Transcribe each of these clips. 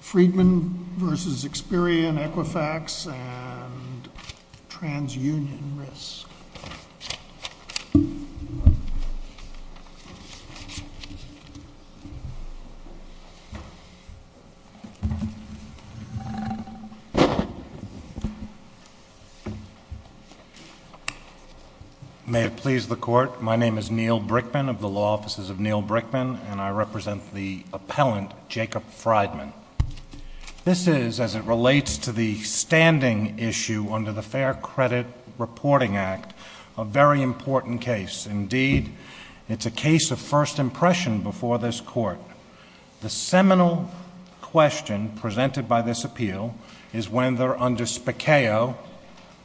Friedman v. Experian Equifax and TransUnion Risk May it please the court, my name is Neil Brickman of the Law Offices of Neil Brickman and I Jacob Friedman. This is, as it relates to the standing issue under the Fair Credit Reporting Act, a very important case. Indeed, it's a case of first impression before this court. The seminal question presented by this appeal is when, under Spicchio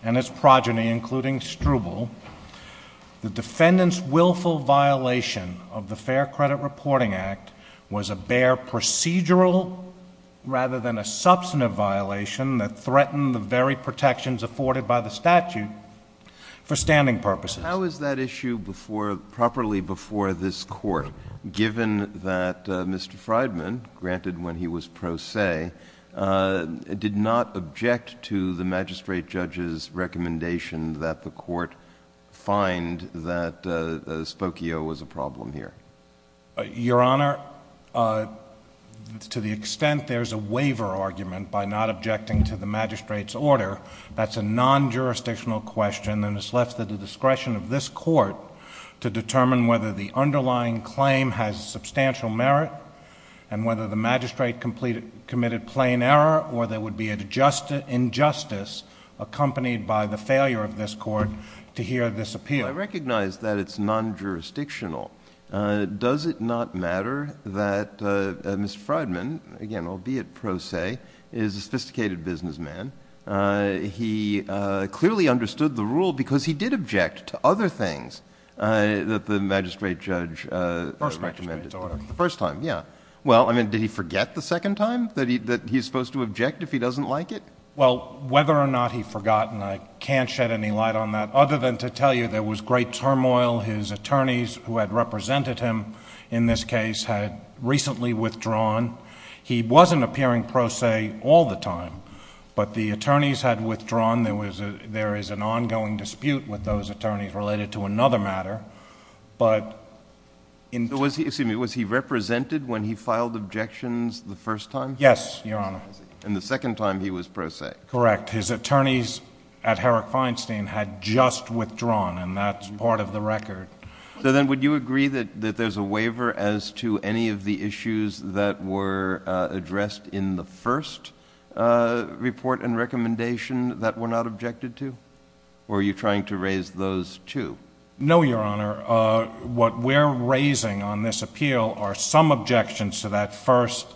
and its progeny, including Struble, the defendant's willful violation of the Fair Credit Reporting Act was a bare procedural rather than a substantive violation that threatened the very protections afforded by the statute for standing purposes. How is that issue properly before this court, given that Mr. Friedman, granted when he was pro se, did not object to the magistrate judge's recommendation that the court find that Spicchio was a problem here? Your Honor, to the extent there's a waiver argument by not objecting to the magistrate's order, that's a non-jurisdictional question and it's left at the discretion of this court to determine whether the underlying claim has substantial merit and whether the magistrate committed plain error or there would be an injustice accompanied by the failure of this court to hear this appeal. I recognize that it's non-jurisdictional. Does it not matter that Mr. Friedman, again, albeit pro se, is a sophisticated businessman? He clearly understood the rule because he did object to other things that the magistrate judge recommended. First magistrate's order. The first time, yeah. Well, I mean, did he forget the second time that he's supposed to object if he doesn't like it? Well, whether or not he forgot, and I can't shed any light on that other than to tell you there was great turmoil. His attorneys who had represented him in this case had recently withdrawn. He wasn't appearing pro se all the time, but the attorneys had withdrawn. There is an ongoing dispute with those attorneys related to another matter. But in terms of the fact that he was pro se, I mean, was he represented when he filed objections the first time? Yes, Your Honor. And the second time he was pro se? Correct. His attorneys at Herrick Feinstein had just withdrawn, and that's part of the record. So then would you agree that there's a waiver as to any of the issues that were addressed in the first report and recommendation that were not objected to? Or are you trying to raise those two? No, Your Honor. What we're raising on this appeal are some objections to that first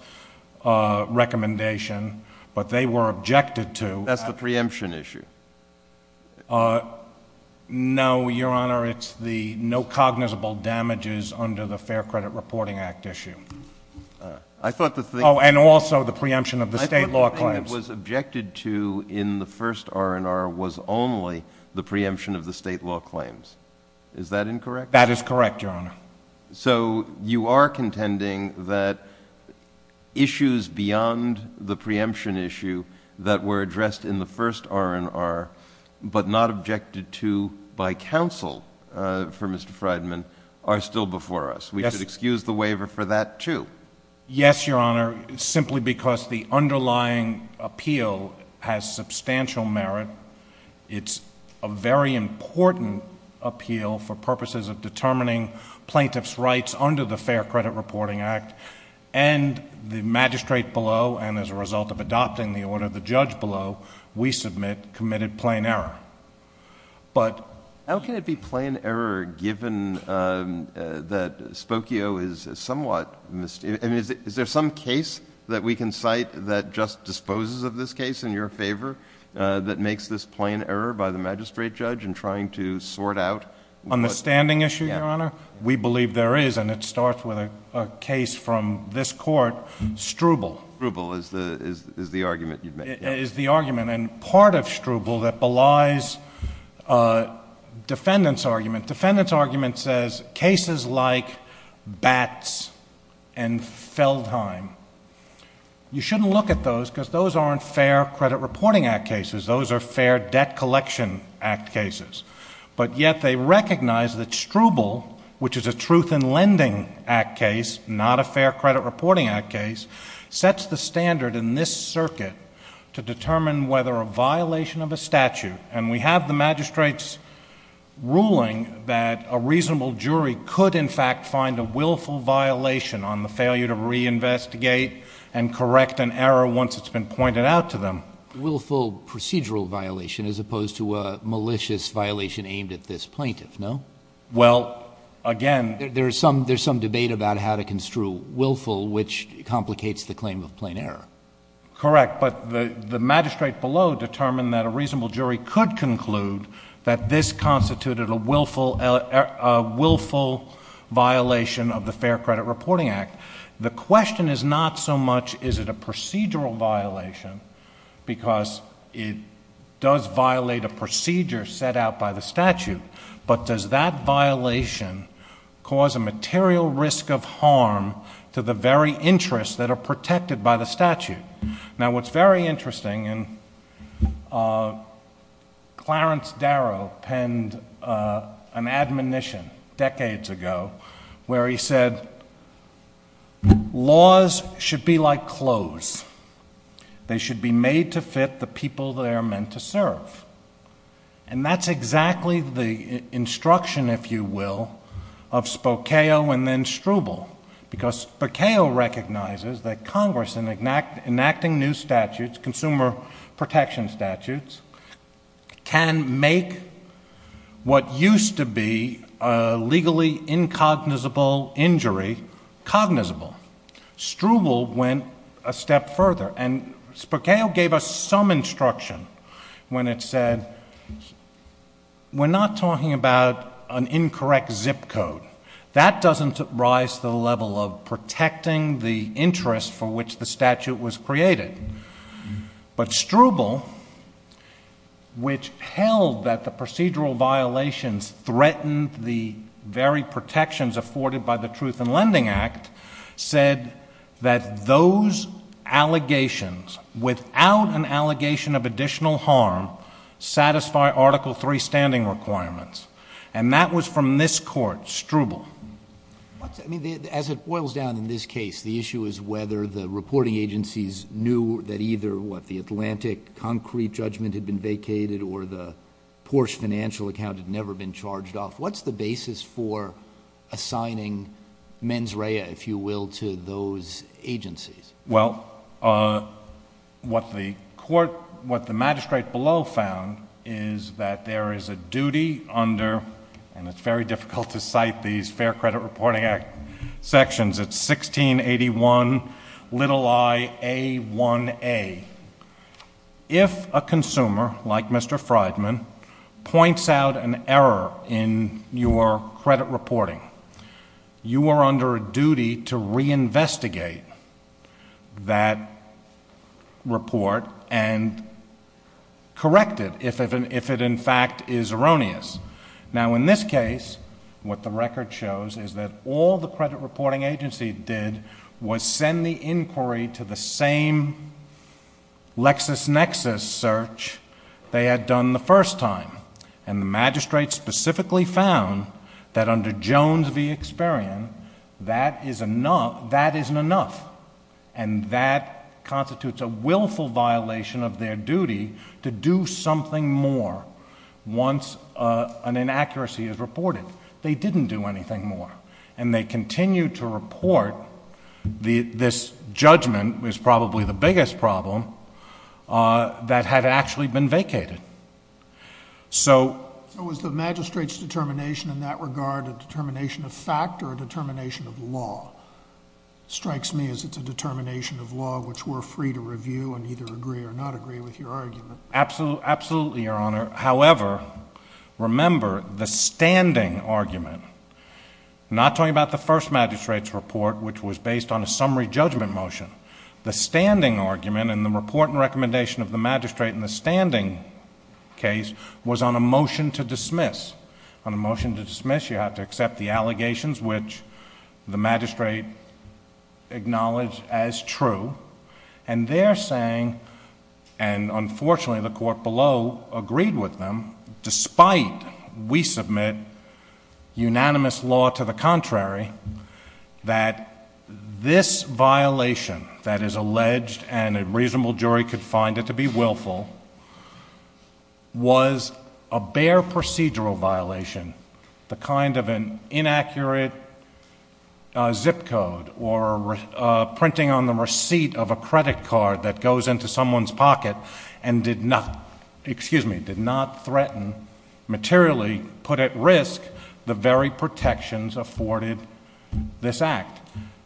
recommendation, but they were objected to. That's the preemption issue. No, Your Honor. It's the no cognizable damages under the Fair Credit Reporting Act issue. I thought the thing... And also the preemption of the state law claims. I thought the thing that was objected to in the first R&R was only the preemption of the state law claims. Is that incorrect? That is correct, Your Honor. So you are contending that issues beyond the preemption issue that were addressed in the first R&R, but not objected to by counsel for Mr. Freidman, are still before us. We should excuse the waiver for that, too. Yes, Your Honor. Simply because the underlying appeal has substantial merit. It's a very important appeal for purposes of determining plaintiff's rights under the Fair Credit Reporting Act. And the magistrate below, and as a result of adopting the order, the judge below, we submit committed plain error. But... How can it be plain error given that Spokio is somewhat mis... I mean, is there some case that we can cite that just disposes of this case in your favor that makes this plain error by the magistrate judge in trying to sort out... On the standing issue, Your Honor? We believe there is, and it starts with a case from this court, Struble. Struble is the argument you'd make. Is the argument, and part of Struble that belies defendant's argument. Defendant's argument says cases like Batts and Feldheim. You shouldn't look at those because those aren't Fair Credit Reporting Act cases. Those are Fair Debt Collection Act cases. But yet they recognize that Struble, which is a Truth in Lending Act case, not a Fair Credit Reporting Act case, sets the standard in this circuit to determine whether a violation of a statute, and we have the magistrate's ruling that a reasonable jury could in fact find a willful violation on the failure to reinvestigate and correct an error once it's been pointed out to them. Willful procedural violation as opposed to a malicious violation aimed at this plaintiff, no? Well, again... There's some debate about how to construe willful, which complicates the claim of plain error. Correct. But the magistrate below determined that a reasonable jury could conclude that this constituted a willful violation of the Fair Credit Reporting Act. The question is not so much is it a procedural violation, because it does violate a procedure set out by the statute, but does that violation cause a material risk of harm to the very Now, what's very interesting, and Clarence Darrow penned an admonition decades ago where he said, laws should be like clothes. They should be made to fit the people they are meant to serve. And that's exactly the instruction, if you will, of Spokeo and then Struble, because Spokeo recognizes that Congress, in enacting new statutes, consumer protection statutes, can make what used to be a legally incognizable injury cognizable. Struble went a step further, and Spokeo gave us some instruction when it said, we're not talking about an incorrect zip code. That doesn't rise to the level of protecting the interest for which the statute was created. But Struble, which held that the procedural violations threatened the very protections afforded by the Truth in Lending Act, said that those allegations, without an allegation of additional harm, satisfy Article III standing requirements. And that was from this Court, Struble. As it boils down in this case, the issue is whether the reporting agencies knew that either the Atlantic concrete judgment had been vacated or the Porsche financial account had never been charged off. What's the basis for assigning mens rea, if you will, to those agencies? Well, what the magistrate below found is that there is a duty under, and it's very difficult to cite these Fair Credit Reporting Act sections, it's 1681, little i, A1A. If a consumer, like Mr. Freidman, points out an error in your credit reporting, you are under a duty to reinvestigate that report and correct it if it, in fact, is erroneous. Now in this case, what the record shows is that all the credit reporting agency did was send the inquiry to the same LexisNexis search they had done the first time. And the magistrate specifically found that under Jones v. Experian, that isn't enough. And that constitutes a willful violation of their duty to do something more once an inaccuracy is reported. They didn't do anything more. And they continued to report this judgment, which is probably the biggest problem, that had actually been vacated. So was the magistrate's determination in that regard a determination of fact or a determination of law? It strikes me as it's a determination of law, which we're free to review and either agree or not agree with your argument. Absolutely, Your Honor. However, remember, the standing argument, not talking about the first magistrate's report, which was based on a summary judgment motion, the standing argument in the report and recommendation of the magistrate in the standing case was on a motion to dismiss. On a motion to dismiss, you have to accept the allegations, which the magistrate acknowledged as true. And they're saying, and unfortunately the court below agreed with them, despite we submit unanimous law to the contrary, that this violation that is alleged and a reasonable jury could find it to be willful, was a bare procedural violation. The kind of an inaccurate zip code or printing on the receipt of a credit card that goes into someone's pocket and did not, excuse me, did not threaten, materially put at risk the very protections afforded this act.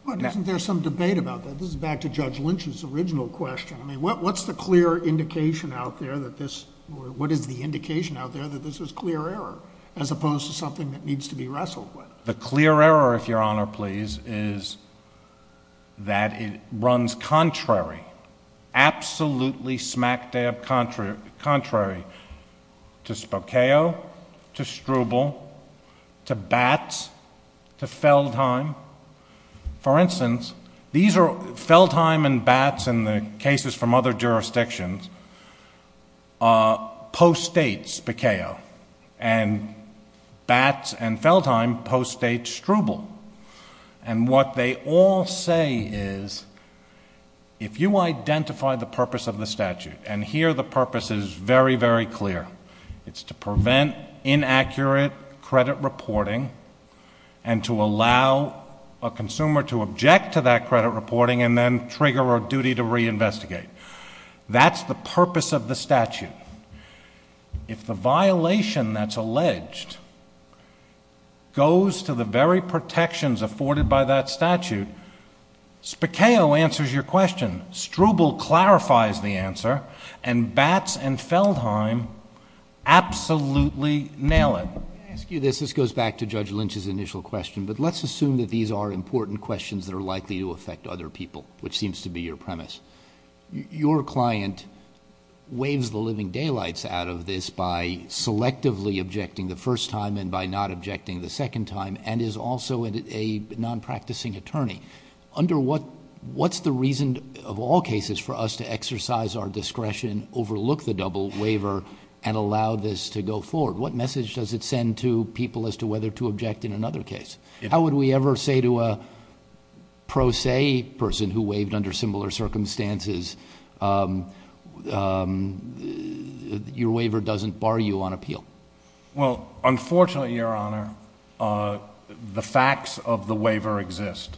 But isn't there some debate about that? This is back to Judge Lynch's original question. I mean, what's the clear indication out there that this, or what is the indication out there that this was clear error, as opposed to something that needs to be wrestled with? The clear error, if Your Honor please, is that it runs contrary, absolutely smack dab contrary to Spokeo, to Struble, to Batts, to Feldheim. For instance, Feldheim and Batts, in the cases from other jurisdictions, post-states Spokeo. And Batts and Feldheim post-states Struble. And what they all say is, if you identify the purpose of the statute, and here the purpose is very, very clear, it's to prevent inaccurate credit reporting, and to allow a consumer to object to that credit reporting, and then trigger a duty to reinvestigate. That's the purpose of the statute. If the violation that's alleged goes to the very protections afforded by that statute, Spokeo answers your question. Struble clarifies the answer, and Batts and Feldheim absolutely nail it. Let me ask you this. This goes back to Judge Lynch's initial question, but let's assume that these are important questions that are likely to affect other people, which seems to be your premise. Your client waves the living daylights out of this by selectively objecting the first time and by not objecting the second time, and is also a non-practicing attorney. Under what, what's the reason of all cases for us to exercise our discretion, overlook the double waiver, and allow this to go forward? What message does it send to people as to whether to object in another case? How would we ever say to a pro se person who waved under similar circumstances, your waiver doesn't bar you on appeal? Well, unfortunately, Your Honor, the facts of the waiver exist.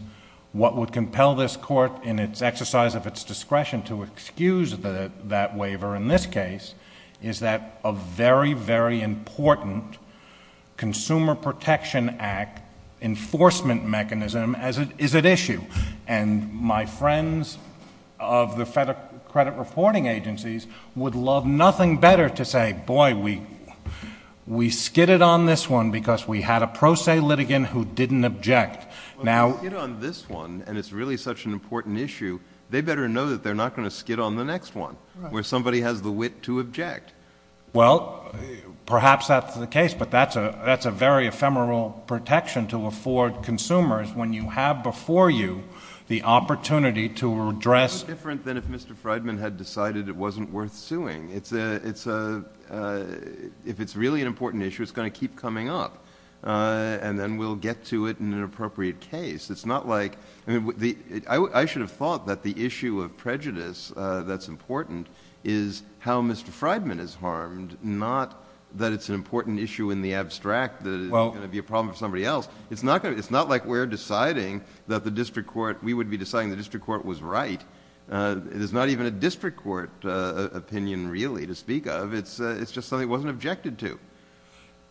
What would compel this court in its exercise of its discretion to excuse that waiver in this case is that a very, very important Consumer Protection Act enforcement mechanism is at issue, and my friends of the credit reporting agencies would love nothing better to say, boy, we skidded on this one because we had a pro se litigant who didn't object. Well, if they skid on this one, and it's really such an important issue, they better know that they're not going to skid on the next one, where somebody has the wit to object. Well, perhaps that's the case, but that's a very ephemeral protection to afford consumers when you have before you the opportunity to address— It's different than if Mr. Freidman had decided it wasn't worth suing. If it's really an important issue, it's going to keep coming up, and then we'll get to it in an appropriate case. It's not like... I should have thought that the issue of prejudice that's important is how Mr. Freidman is harmed, not that it's an important issue in the abstract that it is going to be a problem for somebody else. It's not like we're deciding that the district court... we would be deciding the district court was right. It is not even a district court opinion, really, to speak of. It's just something it wasn't objected to.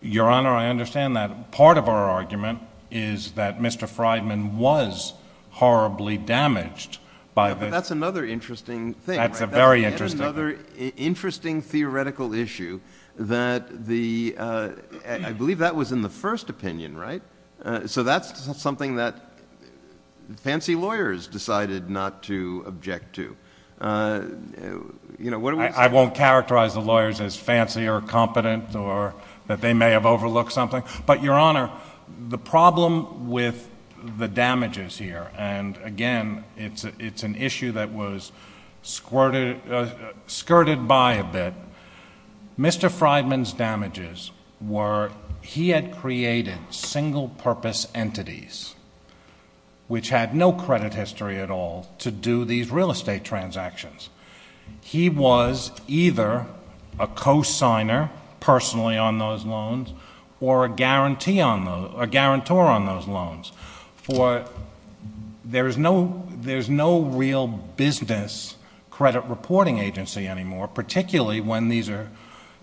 Your Honor, I understand that part of our argument is that Mr. Freidman was horribly damaged by this. That's another interesting thing, right? That's a very interesting thing. That's yet another interesting theoretical issue that the... I believe that was in the first opinion, right? That's something that fancy lawyers decided not to object to. I won't characterize the lawyers as fancy or competent or that they may have overlooked something. Your Honor, the problem with the damages here, and again, it's an issue that was skirted by a bit, Mr. Freidman's damages were he had created single-purpose entities which had no credit history at all to do these real estate transactions. He was either a co-signer personally on those loans or a guarantor on those loans. There's no real business credit reporting agency anymore, particularly when these are...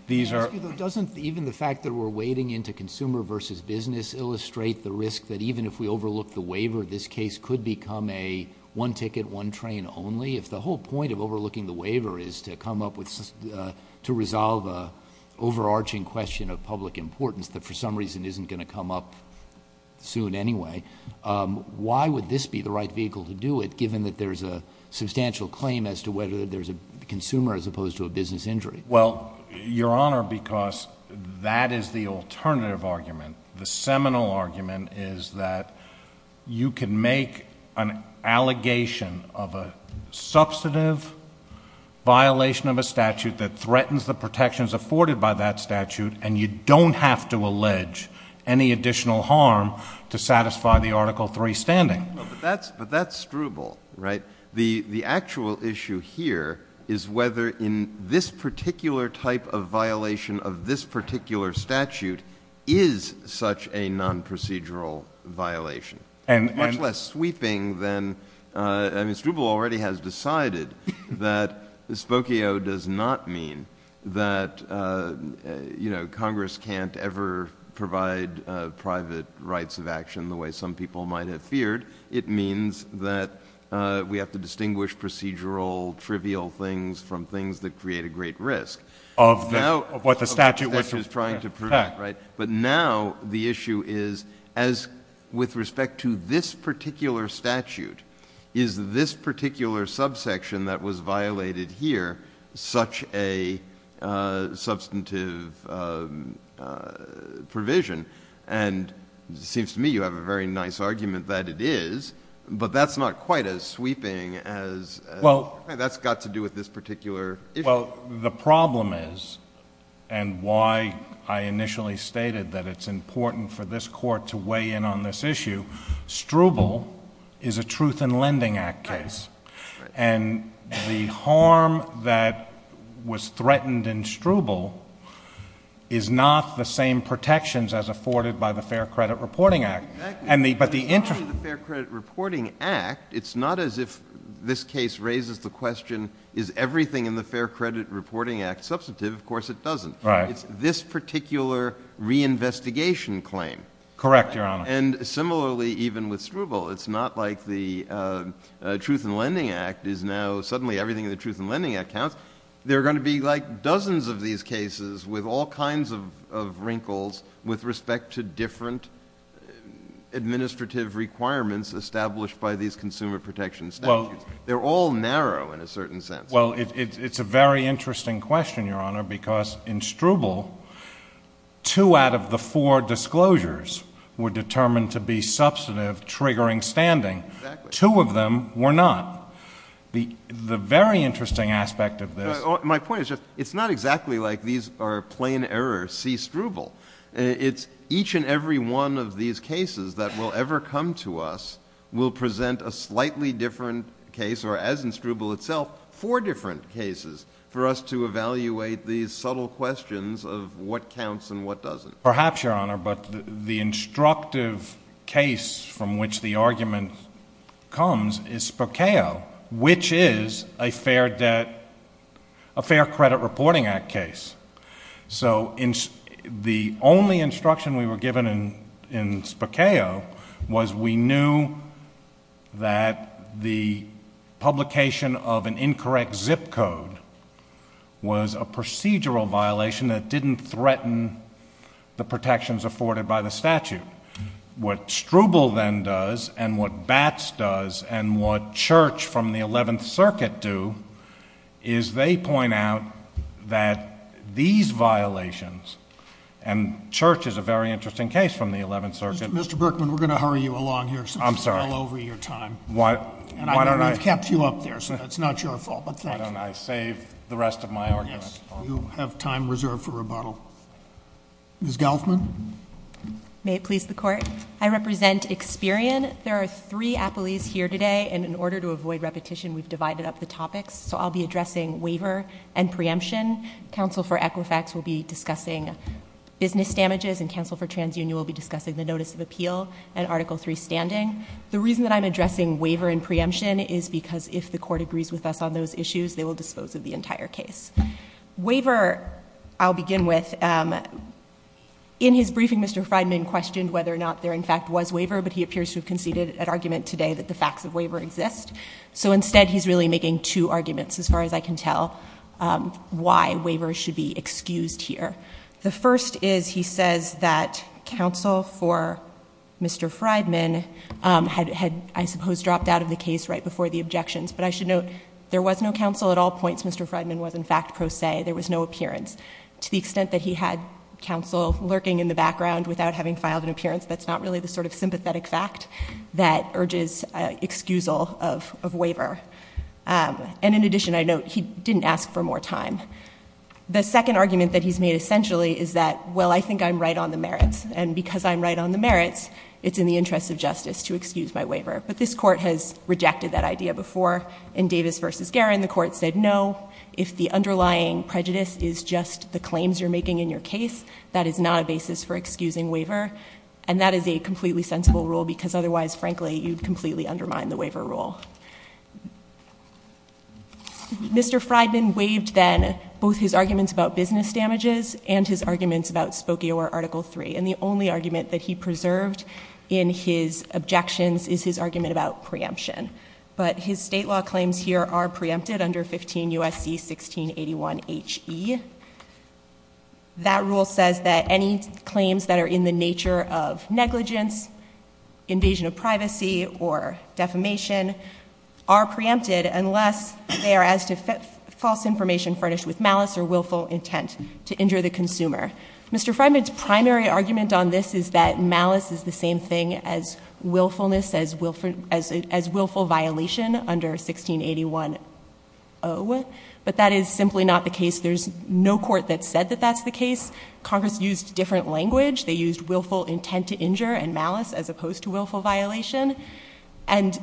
Can I ask you, though, doesn't even the fact that we're wading into consumer versus business illustrate the risk that even if we overlook the waiver, this case could become a one-ticket, one-train only? If the whole point of overlooking the waiver is to come up with... to resolve an overarching question of public importance that for some reason isn't going to come up soon anyway, why would this be the right vehicle to do it given that there's a substantial claim as to whether there's a consumer as opposed to a business injury? Well, Your Honor, because that is the alternative argument. The seminal argument is that you can make an allegation of a substantive violation of a statute that threatens the protections afforded by that statute, and you don't have to allege any additional harm to satisfy the Article III standing. But that's Struble, right? The actual issue here is whether in this particular type of violation of this particular statute is such a non-procedural violation, much less sweeping than... I mean, Struble already has decided that spokio does not mean that Congress can't ever provide private rights of action the way some people might have feared. It means that we have to distinguish procedural, trivial things from things that create a great risk. Of what the statute... Of what the statute is trying to prevent, right? But now the issue is, with respect to this particular statute, is this particular subsection that was violated here such a substantive provision? And it seems to me you have a very nice argument that it is, but that's not quite as sweeping as... That's got to do with this particular issue. Well, the problem is, and why I initially stated that it's important for this Court to weigh in on this issue, Struble is a Truth in Lending Act case, and the harm that was threatened in Struble is not the same protections as afforded by the Fair Credit Reporting Act. Exactly. But the... In the Fair Credit Reporting Act, it's not as if this case raises the question, is everything in the Fair Credit Reporting Act substantive? Of course it doesn't. Right. It's this particular reinvestigation claim. Correct, Your Honor. And similarly, even with Struble, it's not like the Truth in Lending Act is now suddenly everything in the Truth in Lending Act counts. There are going to be like dozens of these cases with all kinds of wrinkles with respect to different administrative requirements established by these consumer protection statutes. They're all narrow in a certain sense. Well, it's a very interesting question, Your Honor, because in Struble, two out of the four disclosures were determined to be substantive, triggering standing. Exactly. Two of them were not. The very interesting aspect of this... My point is just, it's not exactly like these are plain errors, see Struble. It's each and every one of these cases that will ever come to us will present a slightly different case, or as in Struble itself, four different cases for us to evaluate these subtle questions of what counts and what doesn't. Perhaps, Your Honor, but the instructive case from which the argument comes is Spokao, which is a Fair Credit Reporting Act case. So the only instruction we were given in Spokao was we knew that the publication of an incorrect zip code was a procedural violation that didn't threaten the protections afforded by the statute. What Struble then does, and what Batts does, and what Church from the 11th Circuit do, is they point out that these violations, and Church is a very interesting case from the 11th Circuit... Mr. Berkman, we're going to hurry you along here... I'm sorry.... since you're all over your time. Why don't I... And I've kept you up there, so it's not your fault, but thank you. Why don't I save the rest of my argument for... Yes. You have time reserved for rebuttal. Ms. Gelfman? May it please the Court? I represent Experian. There are three appellees here today, and in order to avoid repetition, we've divided up the topics. So I'll be addressing waiver and preemption. Counsel for Equifax will be discussing business damages, and Counsel for Appeal, and Article III standing. The reason that I'm addressing waiver and preemption is because if the Court agrees with us on those issues, they will dispose of the entire case. Waiver I'll begin with. In his briefing, Mr. Friedman questioned whether or not there in fact was waiver, but he appears to have conceded an argument today that the facts of waiver exist. So instead, he's really making two arguments, as far as I can tell, why waiver should be excused here. The first is he says that counsel for Mr. Friedman had, I suppose, dropped out of the case right before the objections. But I should note, there was no counsel at all points. Mr. Friedman was, in fact, pro se. There was no appearance. To the extent that he had counsel lurking in the background without having filed an appearance, that's not really the sort of sympathetic fact that urges excusal of waiver. And in addition, I note, he didn't ask for more time. The second argument that he's made, essentially, is that, well, I think I'm right on the merits. And because I'm right on the merits, it's in the interest of justice to excuse my waiver. But this Court has rejected that idea before. In Davis v. Garin, the Court said, no, if the underlying prejudice is just the claims you're making in your case, that is not a basis for excusing waiver. And that is a completely sensible rule, because otherwise, frankly, you'd completely undermine the waiver rule. Mr. Friedman waived, then, both his arguments about business damages and his arguments about Spokio or Article III. And the only argument that he preserved in his objections is his argument about preemption. But his state law claims here are preempted under 15 U.S.C. 1681 H.E. That rule says that any claims that are in the nature of negligence, invasion of privacy, or defamation, are preempted unless they are as to false information furnished with malice or willful intent to injure the consumer. Mr. Friedman's primary argument on this is that malice is the same thing as willfulness, as willful violation under 1681 O. But that is simply not the case. There's no Court that said that that's the case. Congress used different language. They used willful intent to injure and malice as opposed to willful violation. And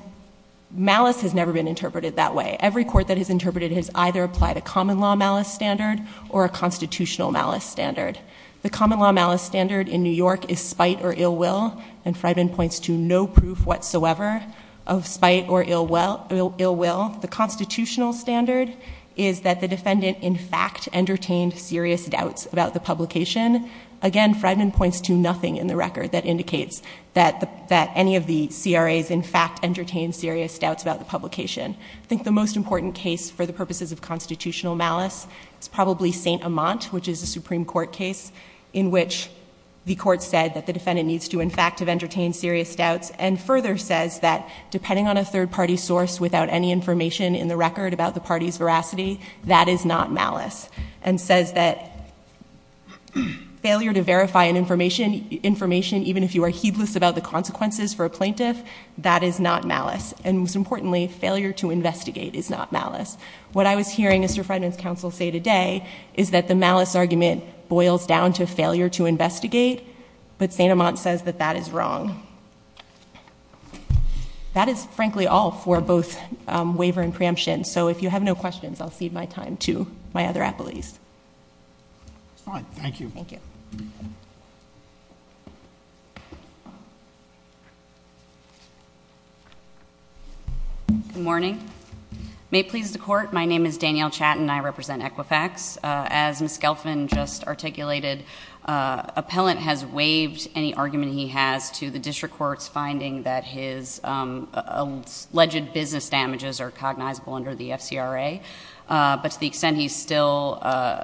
malice has never been interpreted that way. Every Court that has interpreted it has either applied a common law malice standard or a constitutional malice standard. The common law malice standard in New York is spite or ill will, and Friedman points to no proof whatsoever of spite or ill will. The constitutional standard is that the defendant, in fact, entertained serious doubts about the publication. Again, Friedman points to nothing in the record that indicates that any of the CRAs, in fact, entertained serious doubts about the publication. I think the most important case for the purposes of constitutional malice is probably St. Amant, which is a Supreme Court case in which the Court said that the defendant needs to, in fact, have entertained serious doubts and further says that depending on a third-party source without any information in the record about the party's veracity, that is not malice. And says that failure to verify an information even if you are heedless about the consequences for a plaintiff, that is not malice. And most importantly, failure to investigate is not malice. What I was hearing Mr. Friedman's counsel say today is that the malice argument boils down to failure to investigate, but St. Amant says that that is wrong. That is frankly all for both waiver and preemption. So if you have no questions, I'll cede my time to my other appellees. Fine. Thank you. Good morning. May it please the Court, my name is Danielle Chatton and I represent Equifax. As Ms. Skelfman just articulated, Appellant has waived any argument he has to the District Court's finding that his alleged business damages are cognizable under the FCRA, but to the extent he's still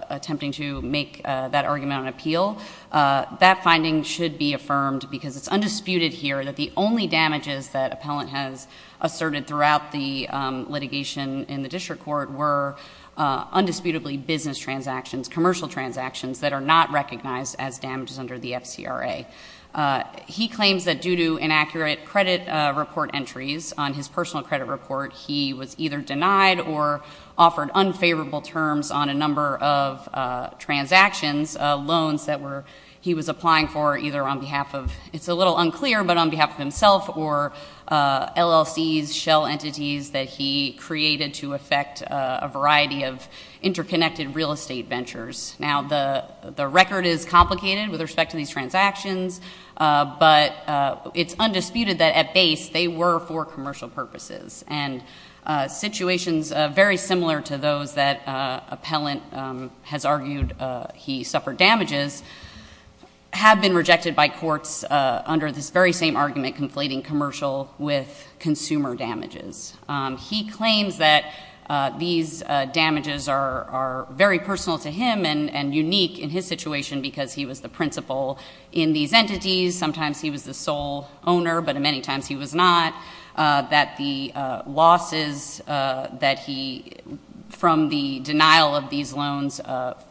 attempting to make that argument on appeal, that finding should be affirmed because it's undisputed here that the only damages that Appellant has asserted throughout the litigation in the District Court were undisputably business transactions, commercial transactions that are not recognized as damages under the FCRA. He claims that due to inaccurate credit report entries on his personal credit report, he was either denied or offered unfavorable terms on a number of transactions, loans that he was applying for either on behalf of, it's a little unclear, but on behalf of himself or LLCs, shell entities that he created to affect a variety of interconnected real estate ventures. Now the record is complicated with respect to these transactions, but it's undisputed that at base they were for commercial purposes and situations very similar to those that Appellant has argued he suffered damages have been rejected by courts under this very same argument, conflating commercial with consumer damages. He claims that these damages are very personal to him and unique in his principle. In these entities, sometimes he was the sole owner, but many times he was not, that the losses that he, from the denial of these loans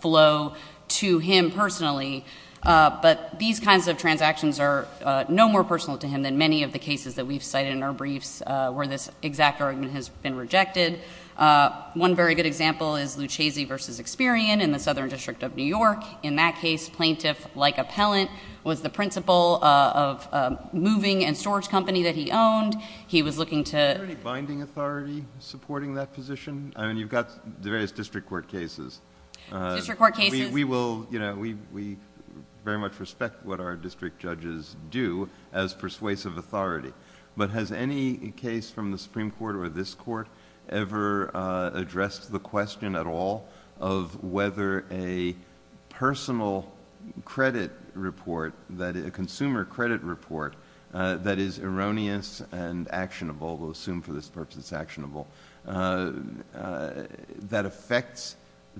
flow to him personally, but these kinds of transactions are no more personal to him than many of the cases that we've cited in our briefs where this exact argument has been rejected. One very good example is Lucezzi v. Experian in the Southern District of New York. In that case, Plaintiff, like Appellant, was the principal of a moving and storage company that he owned. He was looking to... Is there any binding authority supporting that position? I mean, you've got the various district court cases. District court cases... We will, you know, we very much respect what our district judges do as persuasive authority, but has any case from the Supreme Court or this court ever addressed the question at all of whether a personal credit report, a consumer credit report, that is erroneous and actionable, we'll assume for this purpose it's actionable, that affects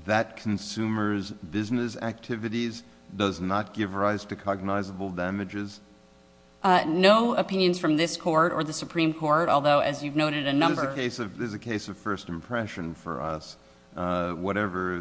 that consumer's business activities does not give rise to cognizable damages? No opinions from this court or the Supreme Court, although, as you've noted, a number... This is a case of first impression for us, whatever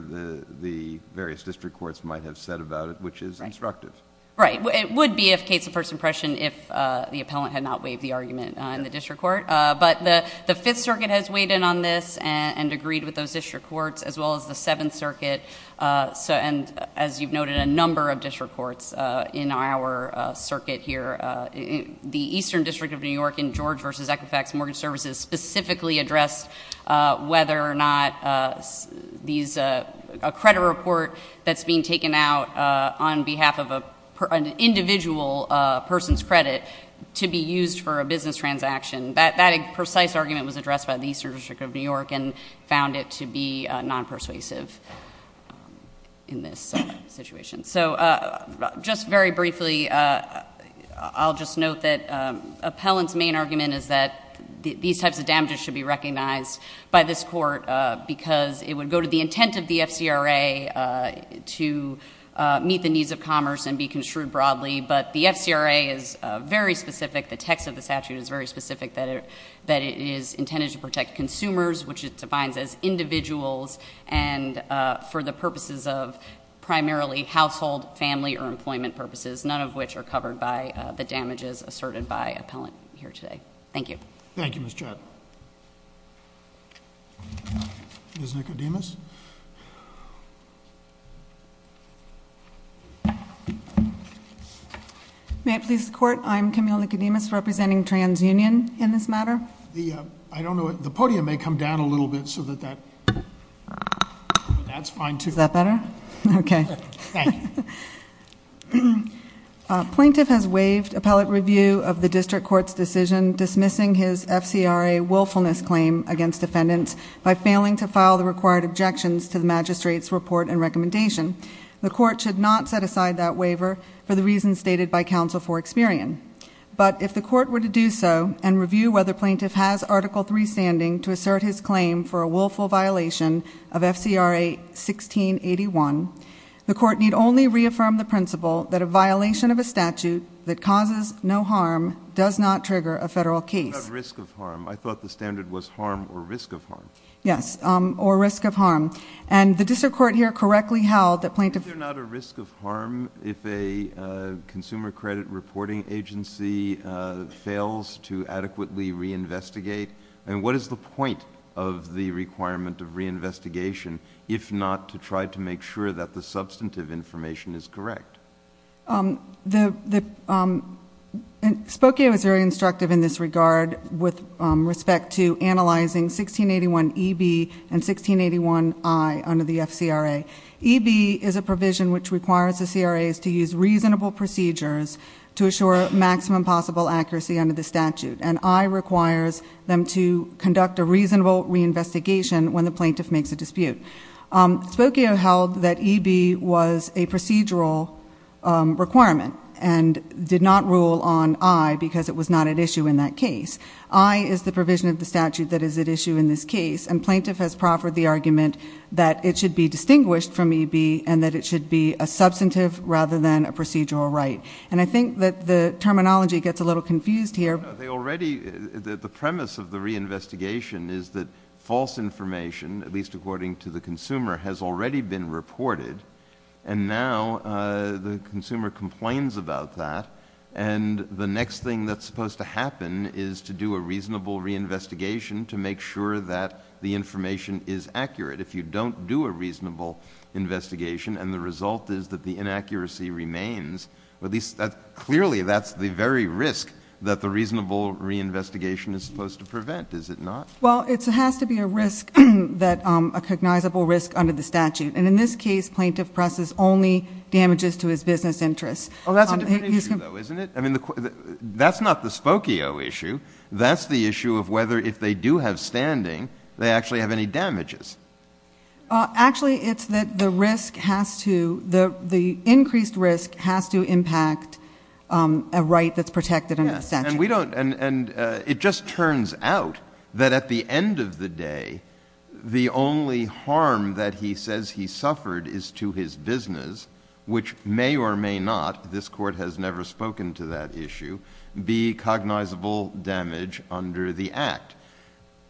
the various district courts might have said about it, which is instructive. Right. It would be a case of first impression if the Appellant had not waived the argument in the district court, but the Fifth Circuit has weighed in on this and agreed with those district courts, as well as the Seventh Circuit, and as you've noted, a number of district courts in our circuit here, the Eastern District of New York in George v. Equifax Mortgage Services specifically addressed whether or not these... a credit report that's being taken out on behalf of an individual person's credit to be used for a business transaction. That precise argument was addressed by the Eastern District of New York and found it to be non-persuasive in this situation. So just very briefly, I'll just note that Appellant's main argument is that these types of damages should be recognized by this court because it would go to the intent of the FCRA to meet the needs of commerce and be construed broadly, but the FCRA is very specific, the text of the statute is very specific, that it is intended to protect consumers, which it defines as individuals, and for the purposes of primarily household, family, or employment purposes, none of which are covered by the damages asserted by Appellant here today. Thank you. Thank you, Ms. Chott. Ms. Nicodemus. May it please the Court, I'm Camille Nicodemus representing TransUnion in this matter. I don't know, the podium may come down a little bit so that, that's fine too. Is that better? Okay. Thank you. Plaintiff has waived Appellate review of the District Court's decision dismissing his FCRA willfulness claim against defendants by failing to file the required objections to the Magistrate's report and recommendation. The Court should not set aside that waiver for the reasons stated by Counsel for Experian, but if the Court were to do so and review whether Plaintiff has Article III standing to assert his claim for a willful violation of FCRA 1681, the Court need only reaffirm the principle that a violation of a statute that causes no harm does not trigger a Federal case. Not risk of harm, I thought the standard was harm or risk of harm. Yes, or risk of harm, and the District Court here correctly held that Plaintiff Is there not a risk of harm if a consumer credit reporting agency fails to adequately reinvestigate, and what is the point of the requirement of reinvestigation if not to try to make sure that the substantive information is correct? Spokaea was very instructive in this regard with respect to analyzing 1681EB and 1681I under the FCRA. EB is a provision which requires the CRAs to use reasonable procedures to assure maximum possible accuracy under the statute, and I requires them to conduct a reasonable reinvestigation when the Plaintiff makes a dispute. Spokaea held that EB was a procedural requirement and did not rule on I because it was not at issue in that case. I is the provision of the statute that is at issue in this case, and Plaintiff has proffered the argument that it should be distinguished from EB and that it should be a substantive rather than a procedural right, and I think that the terminology gets a little confused here. The premise of the reinvestigation is that false information, at least according to the consumer, has already been reported, and now the consumer complains about that, and the next thing that's supposed to happen is to do a reasonable reinvestigation to make sure that the information is accurate. If you don't do a reasonable investigation and the result is that the inaccuracy remains, at least clearly that's the very risk that the reasonable reinvestigation is supposed to prevent, is it not? Well, it has to be a risk, a cognizable risk under the statute, and in this case Plaintiff presses only damages to his business interests. Well, that's a different issue, though, isn't it? I mean, that's not the Spokaea issue. That's the issue of whether if they do have standing they actually have any damages. Actually it's that the risk has to, the increased risk has to impact a right that's protected under the statute. And it just turns out that at the end of the day the only harm that he says he suffered is to his business, which may or may not, this Court has never spoken to that issue, be cognizable damage under the Act.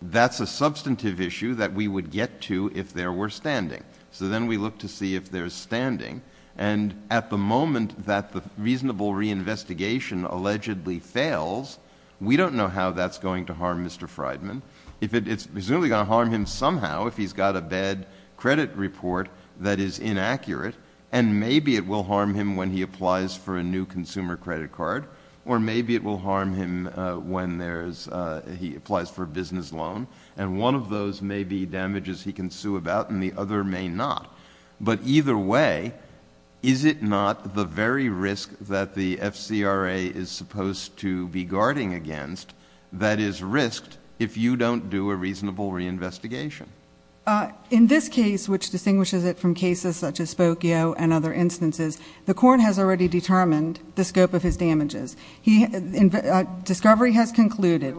That's a substantive issue that we would get to if there were standing. So then we look to see if there's standing, and at the moment that the reasonable reinvestigation allegedly fails, we don't know how that's going to harm Mr. Freidman. It's presumably going to harm him somehow if he's got a bad credit report that is inaccurate, and maybe it will harm him when he applies for a new consumer credit card, or maybe it will harm him when he applies for a business loan, and one of those may be damages he can sue about and the other may not. But either way, is it not the very risk that the FCRA is supposed to be guarding against that is risked if you don't do a reasonable reinvestigation? In this case, which distinguishes it from cases such as Spokio and other instances, the Court has already determined the scope of his damages. Discovery has concluded.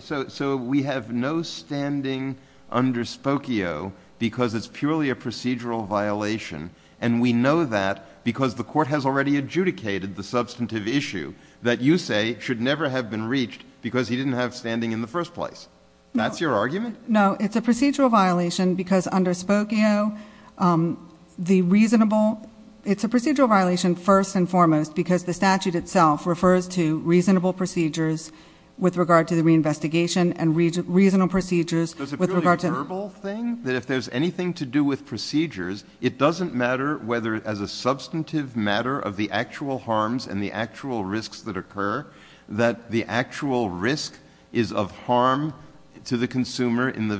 So we have no standing under Spokio because it's purely a procedural violation, and we know that because the Court has already adjudicated the substantive issue that you say should never have been reached because he didn't have standing in the first place. That's your argument? No. It's a procedural violation because under Spokio, the reasonable — it's a procedural violation first and foremost because the statute itself refers to reasonable procedures with regard to the reinvestigation and reasonable procedures with regard to — Is it a purely verbal thing that if there's anything to do with procedures, it doesn't matter whether as a substantive matter of the actual harms and the actual risks that occur in the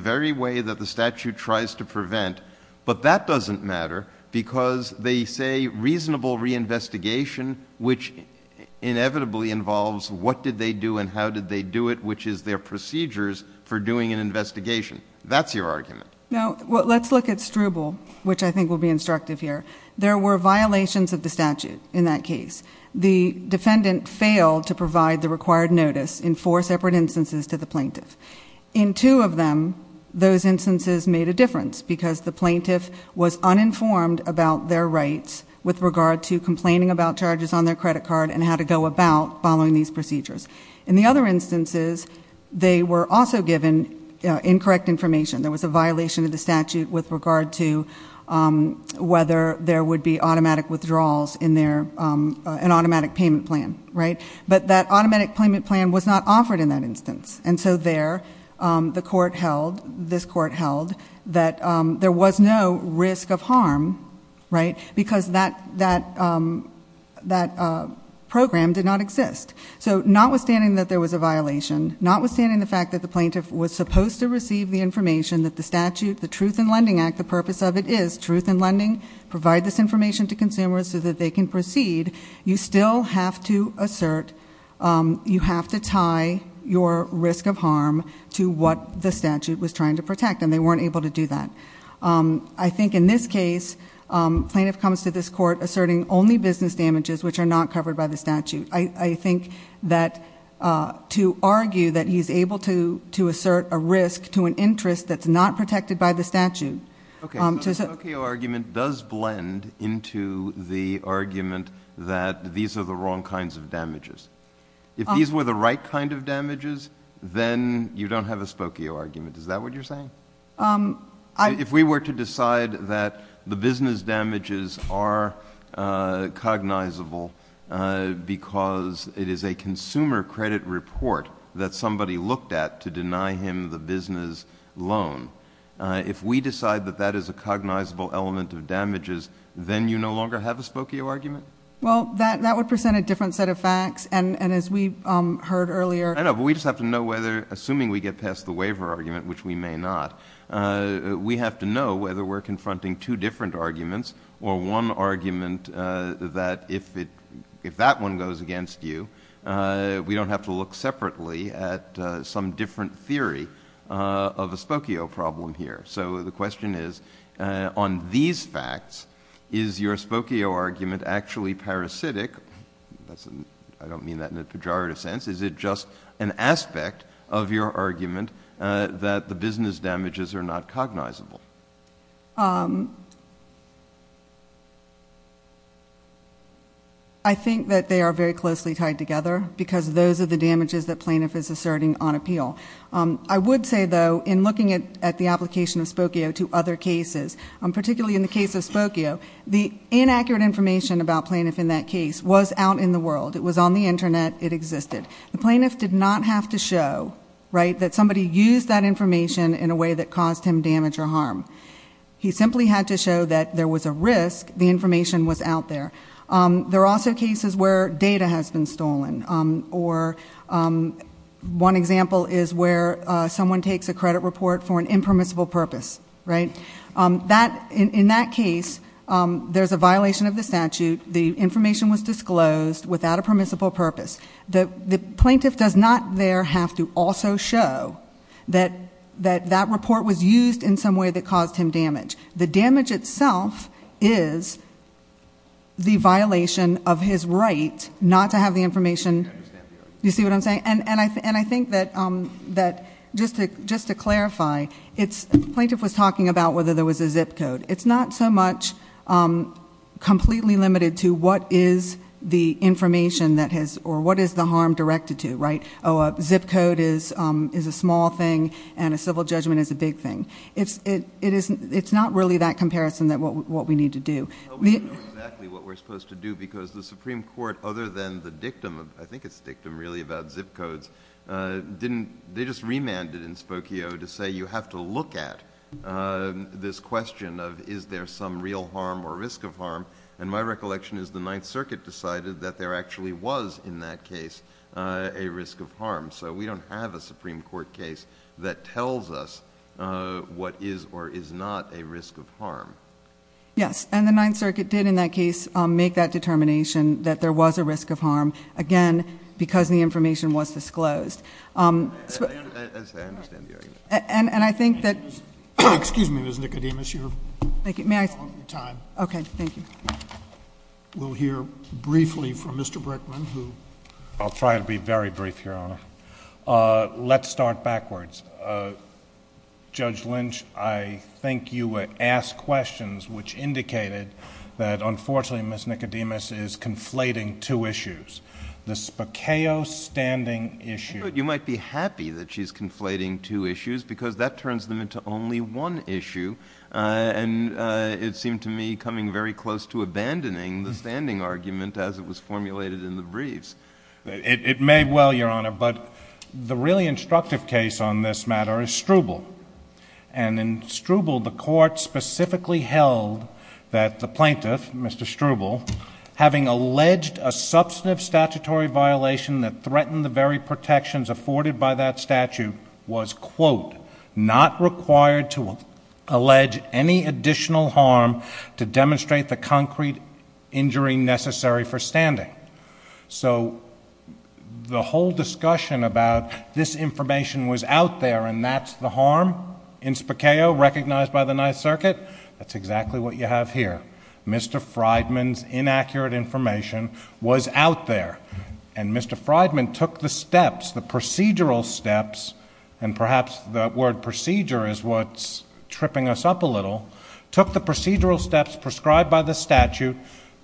very way that the statute tries to prevent, but that doesn't matter because they say reasonable reinvestigation, which inevitably involves what did they do and how did they do it, which is their procedures for doing an investigation. That's your argument? No. Let's look at Struble, which I think will be instructive here. There were violations of the statute in that case. The defendant failed to provide the required notice in four separate instances to the plaintiff. In two of them, those instances made a difference because the plaintiff was uninformed about their rights with regard to complaining about charges on their credit card and how to go about following these procedures. In the other instances, they were also given incorrect information. There was a violation of the statute with regard to whether there would be automatic withdrawals in their — an automatic payment plan was not offered in that instance. And so there, the court held, this court held, that there was no risk of harm, right, because that program did not exist. So notwithstanding that there was a violation, notwithstanding the fact that the plaintiff was supposed to receive the information that the statute, the Truth in Lending Act, the purpose of it is truth in lending, provide this information to consumers so that they can proceed, you still have to assert, you have to tie your risk of harm to what the statute was trying to protect, and they weren't able to do that. I think in this case, plaintiff comes to this court asserting only business damages which are not covered by the statute. I think that to argue that he's able to assert a risk to an interest that's not protected by the statute — Okay. So the Spokio argument does blend into the argument that these are the wrong kinds of damages. If these were the right kind of damages, then you don't have a Spokio argument. Is that what you're saying? If we were to decide that the business damages are cognizable because it is a consumer credit report that somebody looked at to deny him the business loan, if we decide that that is a cognizable element of damages, then you no longer have a Spokio argument? Well, that would present a different set of facts, and as we heard earlier — I know, but we just have to know whether, assuming we get past the waiver argument, which we may not, we have to know whether we're confronting two different arguments or one argument that, if that one goes against you, we don't have to look separately at some different theory of a Spokio problem here. So the question is, on these facts, is your Spokio argument actually parasitic? I don't mean that in a pejorative sense. Is it just an aspect of your argument that the business damages are not cognizable? I think that they are very closely tied together because those are the damages that plaintiff is asserting on appeal. I would say, though, in looking at the application of Spokio to other cases, particularly in the case of Spokio, the inaccurate information about plaintiff in that case was out in the world. It was on the Internet. It existed. The plaintiff did not have to show that somebody used that information in a way that caused him damage or harm. He simply had to show that there was a risk the information was out there. There are also cases where data has been stolen. One example is where someone takes a credit report for an impermissible purpose. In that case, there's a violation of the statute. The information was disclosed without a permissible purpose. The plaintiff does not there have to also show that that report was used in some way that caused him damage. The damage itself is the violation of his right not to have the information. I think that just to clarify, the plaintiff was talking about whether there was a zip code. It's not so much completely limited to what is the information or what is the zip code. A zip code is a small thing and a civil judgment is a big thing. It's not really that comparison that what we need to do. We don't know exactly what we're supposed to do because the Supreme Court, other than the dictum, I think it's dictum really about zip codes, they just remanded in Spokio to say you have to look at this question of is there some real harm or risk of harm. My recollection is the Ninth Circuit decided that there actually was in that case a risk of harm. We don't have a Supreme Court case that tells us what is or is not a risk of harm. Yes, and the Ninth Circuit did in that case make that determination that there was a risk of harm, again, because the information was disclosed. I understand the argument. And I think that Excuse me, Ms. Nicodemus, you're taking too long of your time. Okay, thank you. We'll hear briefly from Mr. Brickman who I'll try to be very brief, Your Honor. Let's start backwards. Judge Lynch, I think you asked questions which indicated that unfortunately Ms. Nicodemus is conflating two issues, the Spokio standing issue I thought you might be happy that she's conflating two issues because that turns them into only one issue, and it seemed to me coming very close to abandoning the standing argument as it was formulated in the briefs. It may well, Your Honor, but the really instructive case on this matter is Struble. And in Struble, the Court specifically held that the plaintiff, Mr. Struble, having alleged a substantive statutory violation that threatened the very protections afforded by that statute was, quote, not required to allege any additional harm to demonstrate the concrete injury necessary for standing. So the whole discussion about this information was out there and that's the harm in Spokio recognized by the Ninth Circuit, that's exactly what you have here. Mr. Freidman's inaccurate information was out there. And Mr. Freidman took the steps, the procedural steps, and perhaps the word procedure is what's tripping us up a little, took the procedural steps prescribed by the statute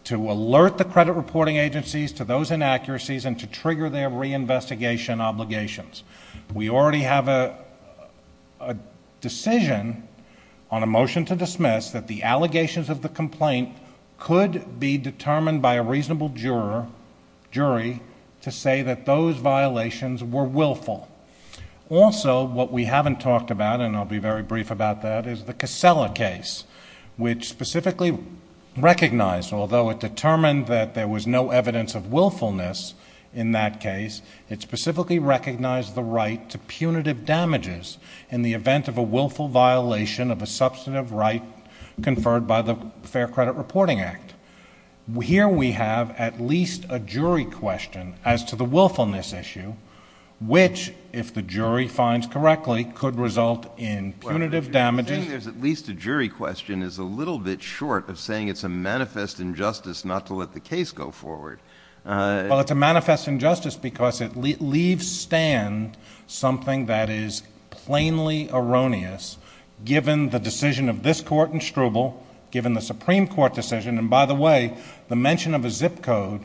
to alert the credit reporting agencies to those inaccuracies and to trigger their reinvestigation obligations. We already have a decision on a motion to dismiss that the allegations of the complaint could be determined by a reasonable jury to say that those violations were willful. Also, what we haven't talked about, and I'll be very brief about that, is the Casella case, which specifically recognized, although it determined that there was no evidence of willfulness in that case, it specifically recognized the right to punitive damages in the event of a willful violation of a substantive right conferred by the Fair Credit Reporting Act. Here we have at least a jury question as to the willfulness issue, which, if the jury finds correctly, could result in punitive damages. Well, I'm assuming there's at least a jury question is a little bit short of saying it's a manifest injustice not to let the case go forward. Well, it's a manifest injustice because it leaves stand something that is plainly erroneous given the decision of this Court in Struble, given the Supreme Court decision, and by the way, the mention of a zip code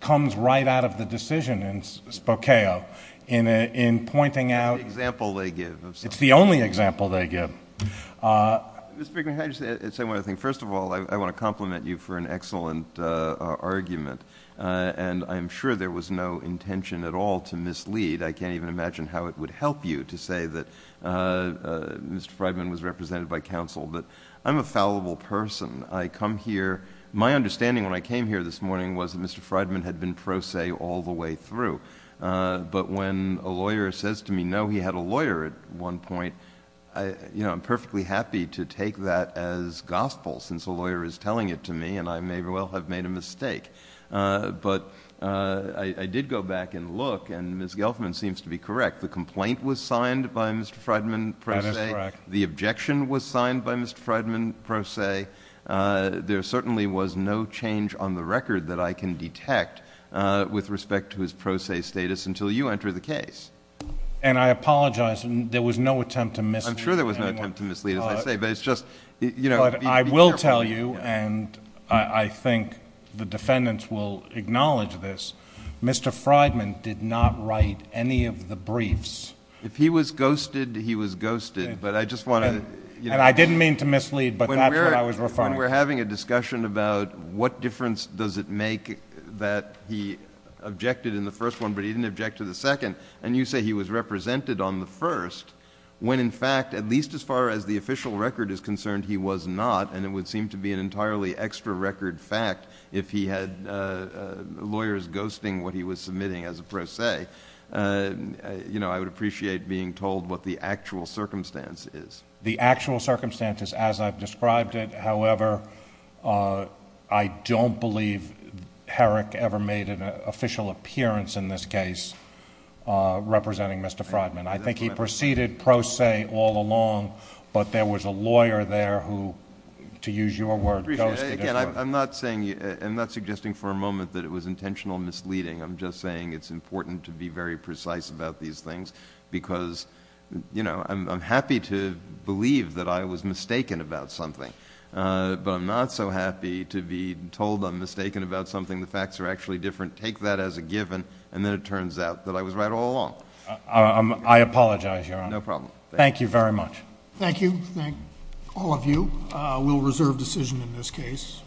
comes right out of the decision in Spokeo in pointing out it's the only example they give. Mr. Friedman, can I just say one other thing? First of all, I want to compliment you for an excellent argument, and I'm sure there was no intention at all to mislead. I can't even imagine how it would help you to say that Mr. Friedman was represented by counsel, but I'm a fallible person. I come here, my understanding when I came here this morning was that Mr. Friedman had been pro se all the way through, but when a lawyer says to me, no, he had a lawyer at one point, I'm perfectly happy to take that as gospel since a lawyer is telling it to me, and I may well have made a mistake, but I did go back and look, and Ms. Gelfman seems to be correct. The complaint was signed by Mr. Friedman pro se. That is correct. The objection was signed by Mr. Friedman pro se. There certainly was no change on the record that I can detect with respect to his pro se status until you enter the case. And I apologize. There was no attempt to mislead anyone. I'm sure there was no attempt to mislead, as I say, but it's just, you know, be careful. I will tell you, and I think the defendants will acknowledge this, Mr. Friedman did not write any of the briefs. If he was ghosted, he was ghosted, but I just wanted to, you know— And I didn't mean to mislead, but that's what I was referring to. When we're having a discussion about what difference does it make that he objected in the first one, but he didn't object to the second, and you say he was represented on the first, when in fact, at least as far as the official record is concerned, he was not, and it would seem to be an entirely extra record fact if he had lawyers ghosting what he was submitting as a pro se, you know, I would appreciate being told what the actual circumstance is. The actual circumstance is as I've described it, however, I don't believe Herrick ever made an official appearance in this case representing Mr. Friedman. I think he proceeded pro se all along, but there was a lawyer there who, to use your word, ghosted him. I appreciate it. Again, I'm not saying, I'm not suggesting for a moment that it was intentional misleading. I'm just saying it's important to be very precise about these things because, you know, I'm happy to believe that I was mistaken about something, but I'm not so happy to be told I'm mistaken about something, the facts are actually different. Take that as a given, and then it turns out that I was right all along. I apologize, Your Honor. No problem. Thank you very much. Thank you. Thank all of you. We'll reserve decision in this case.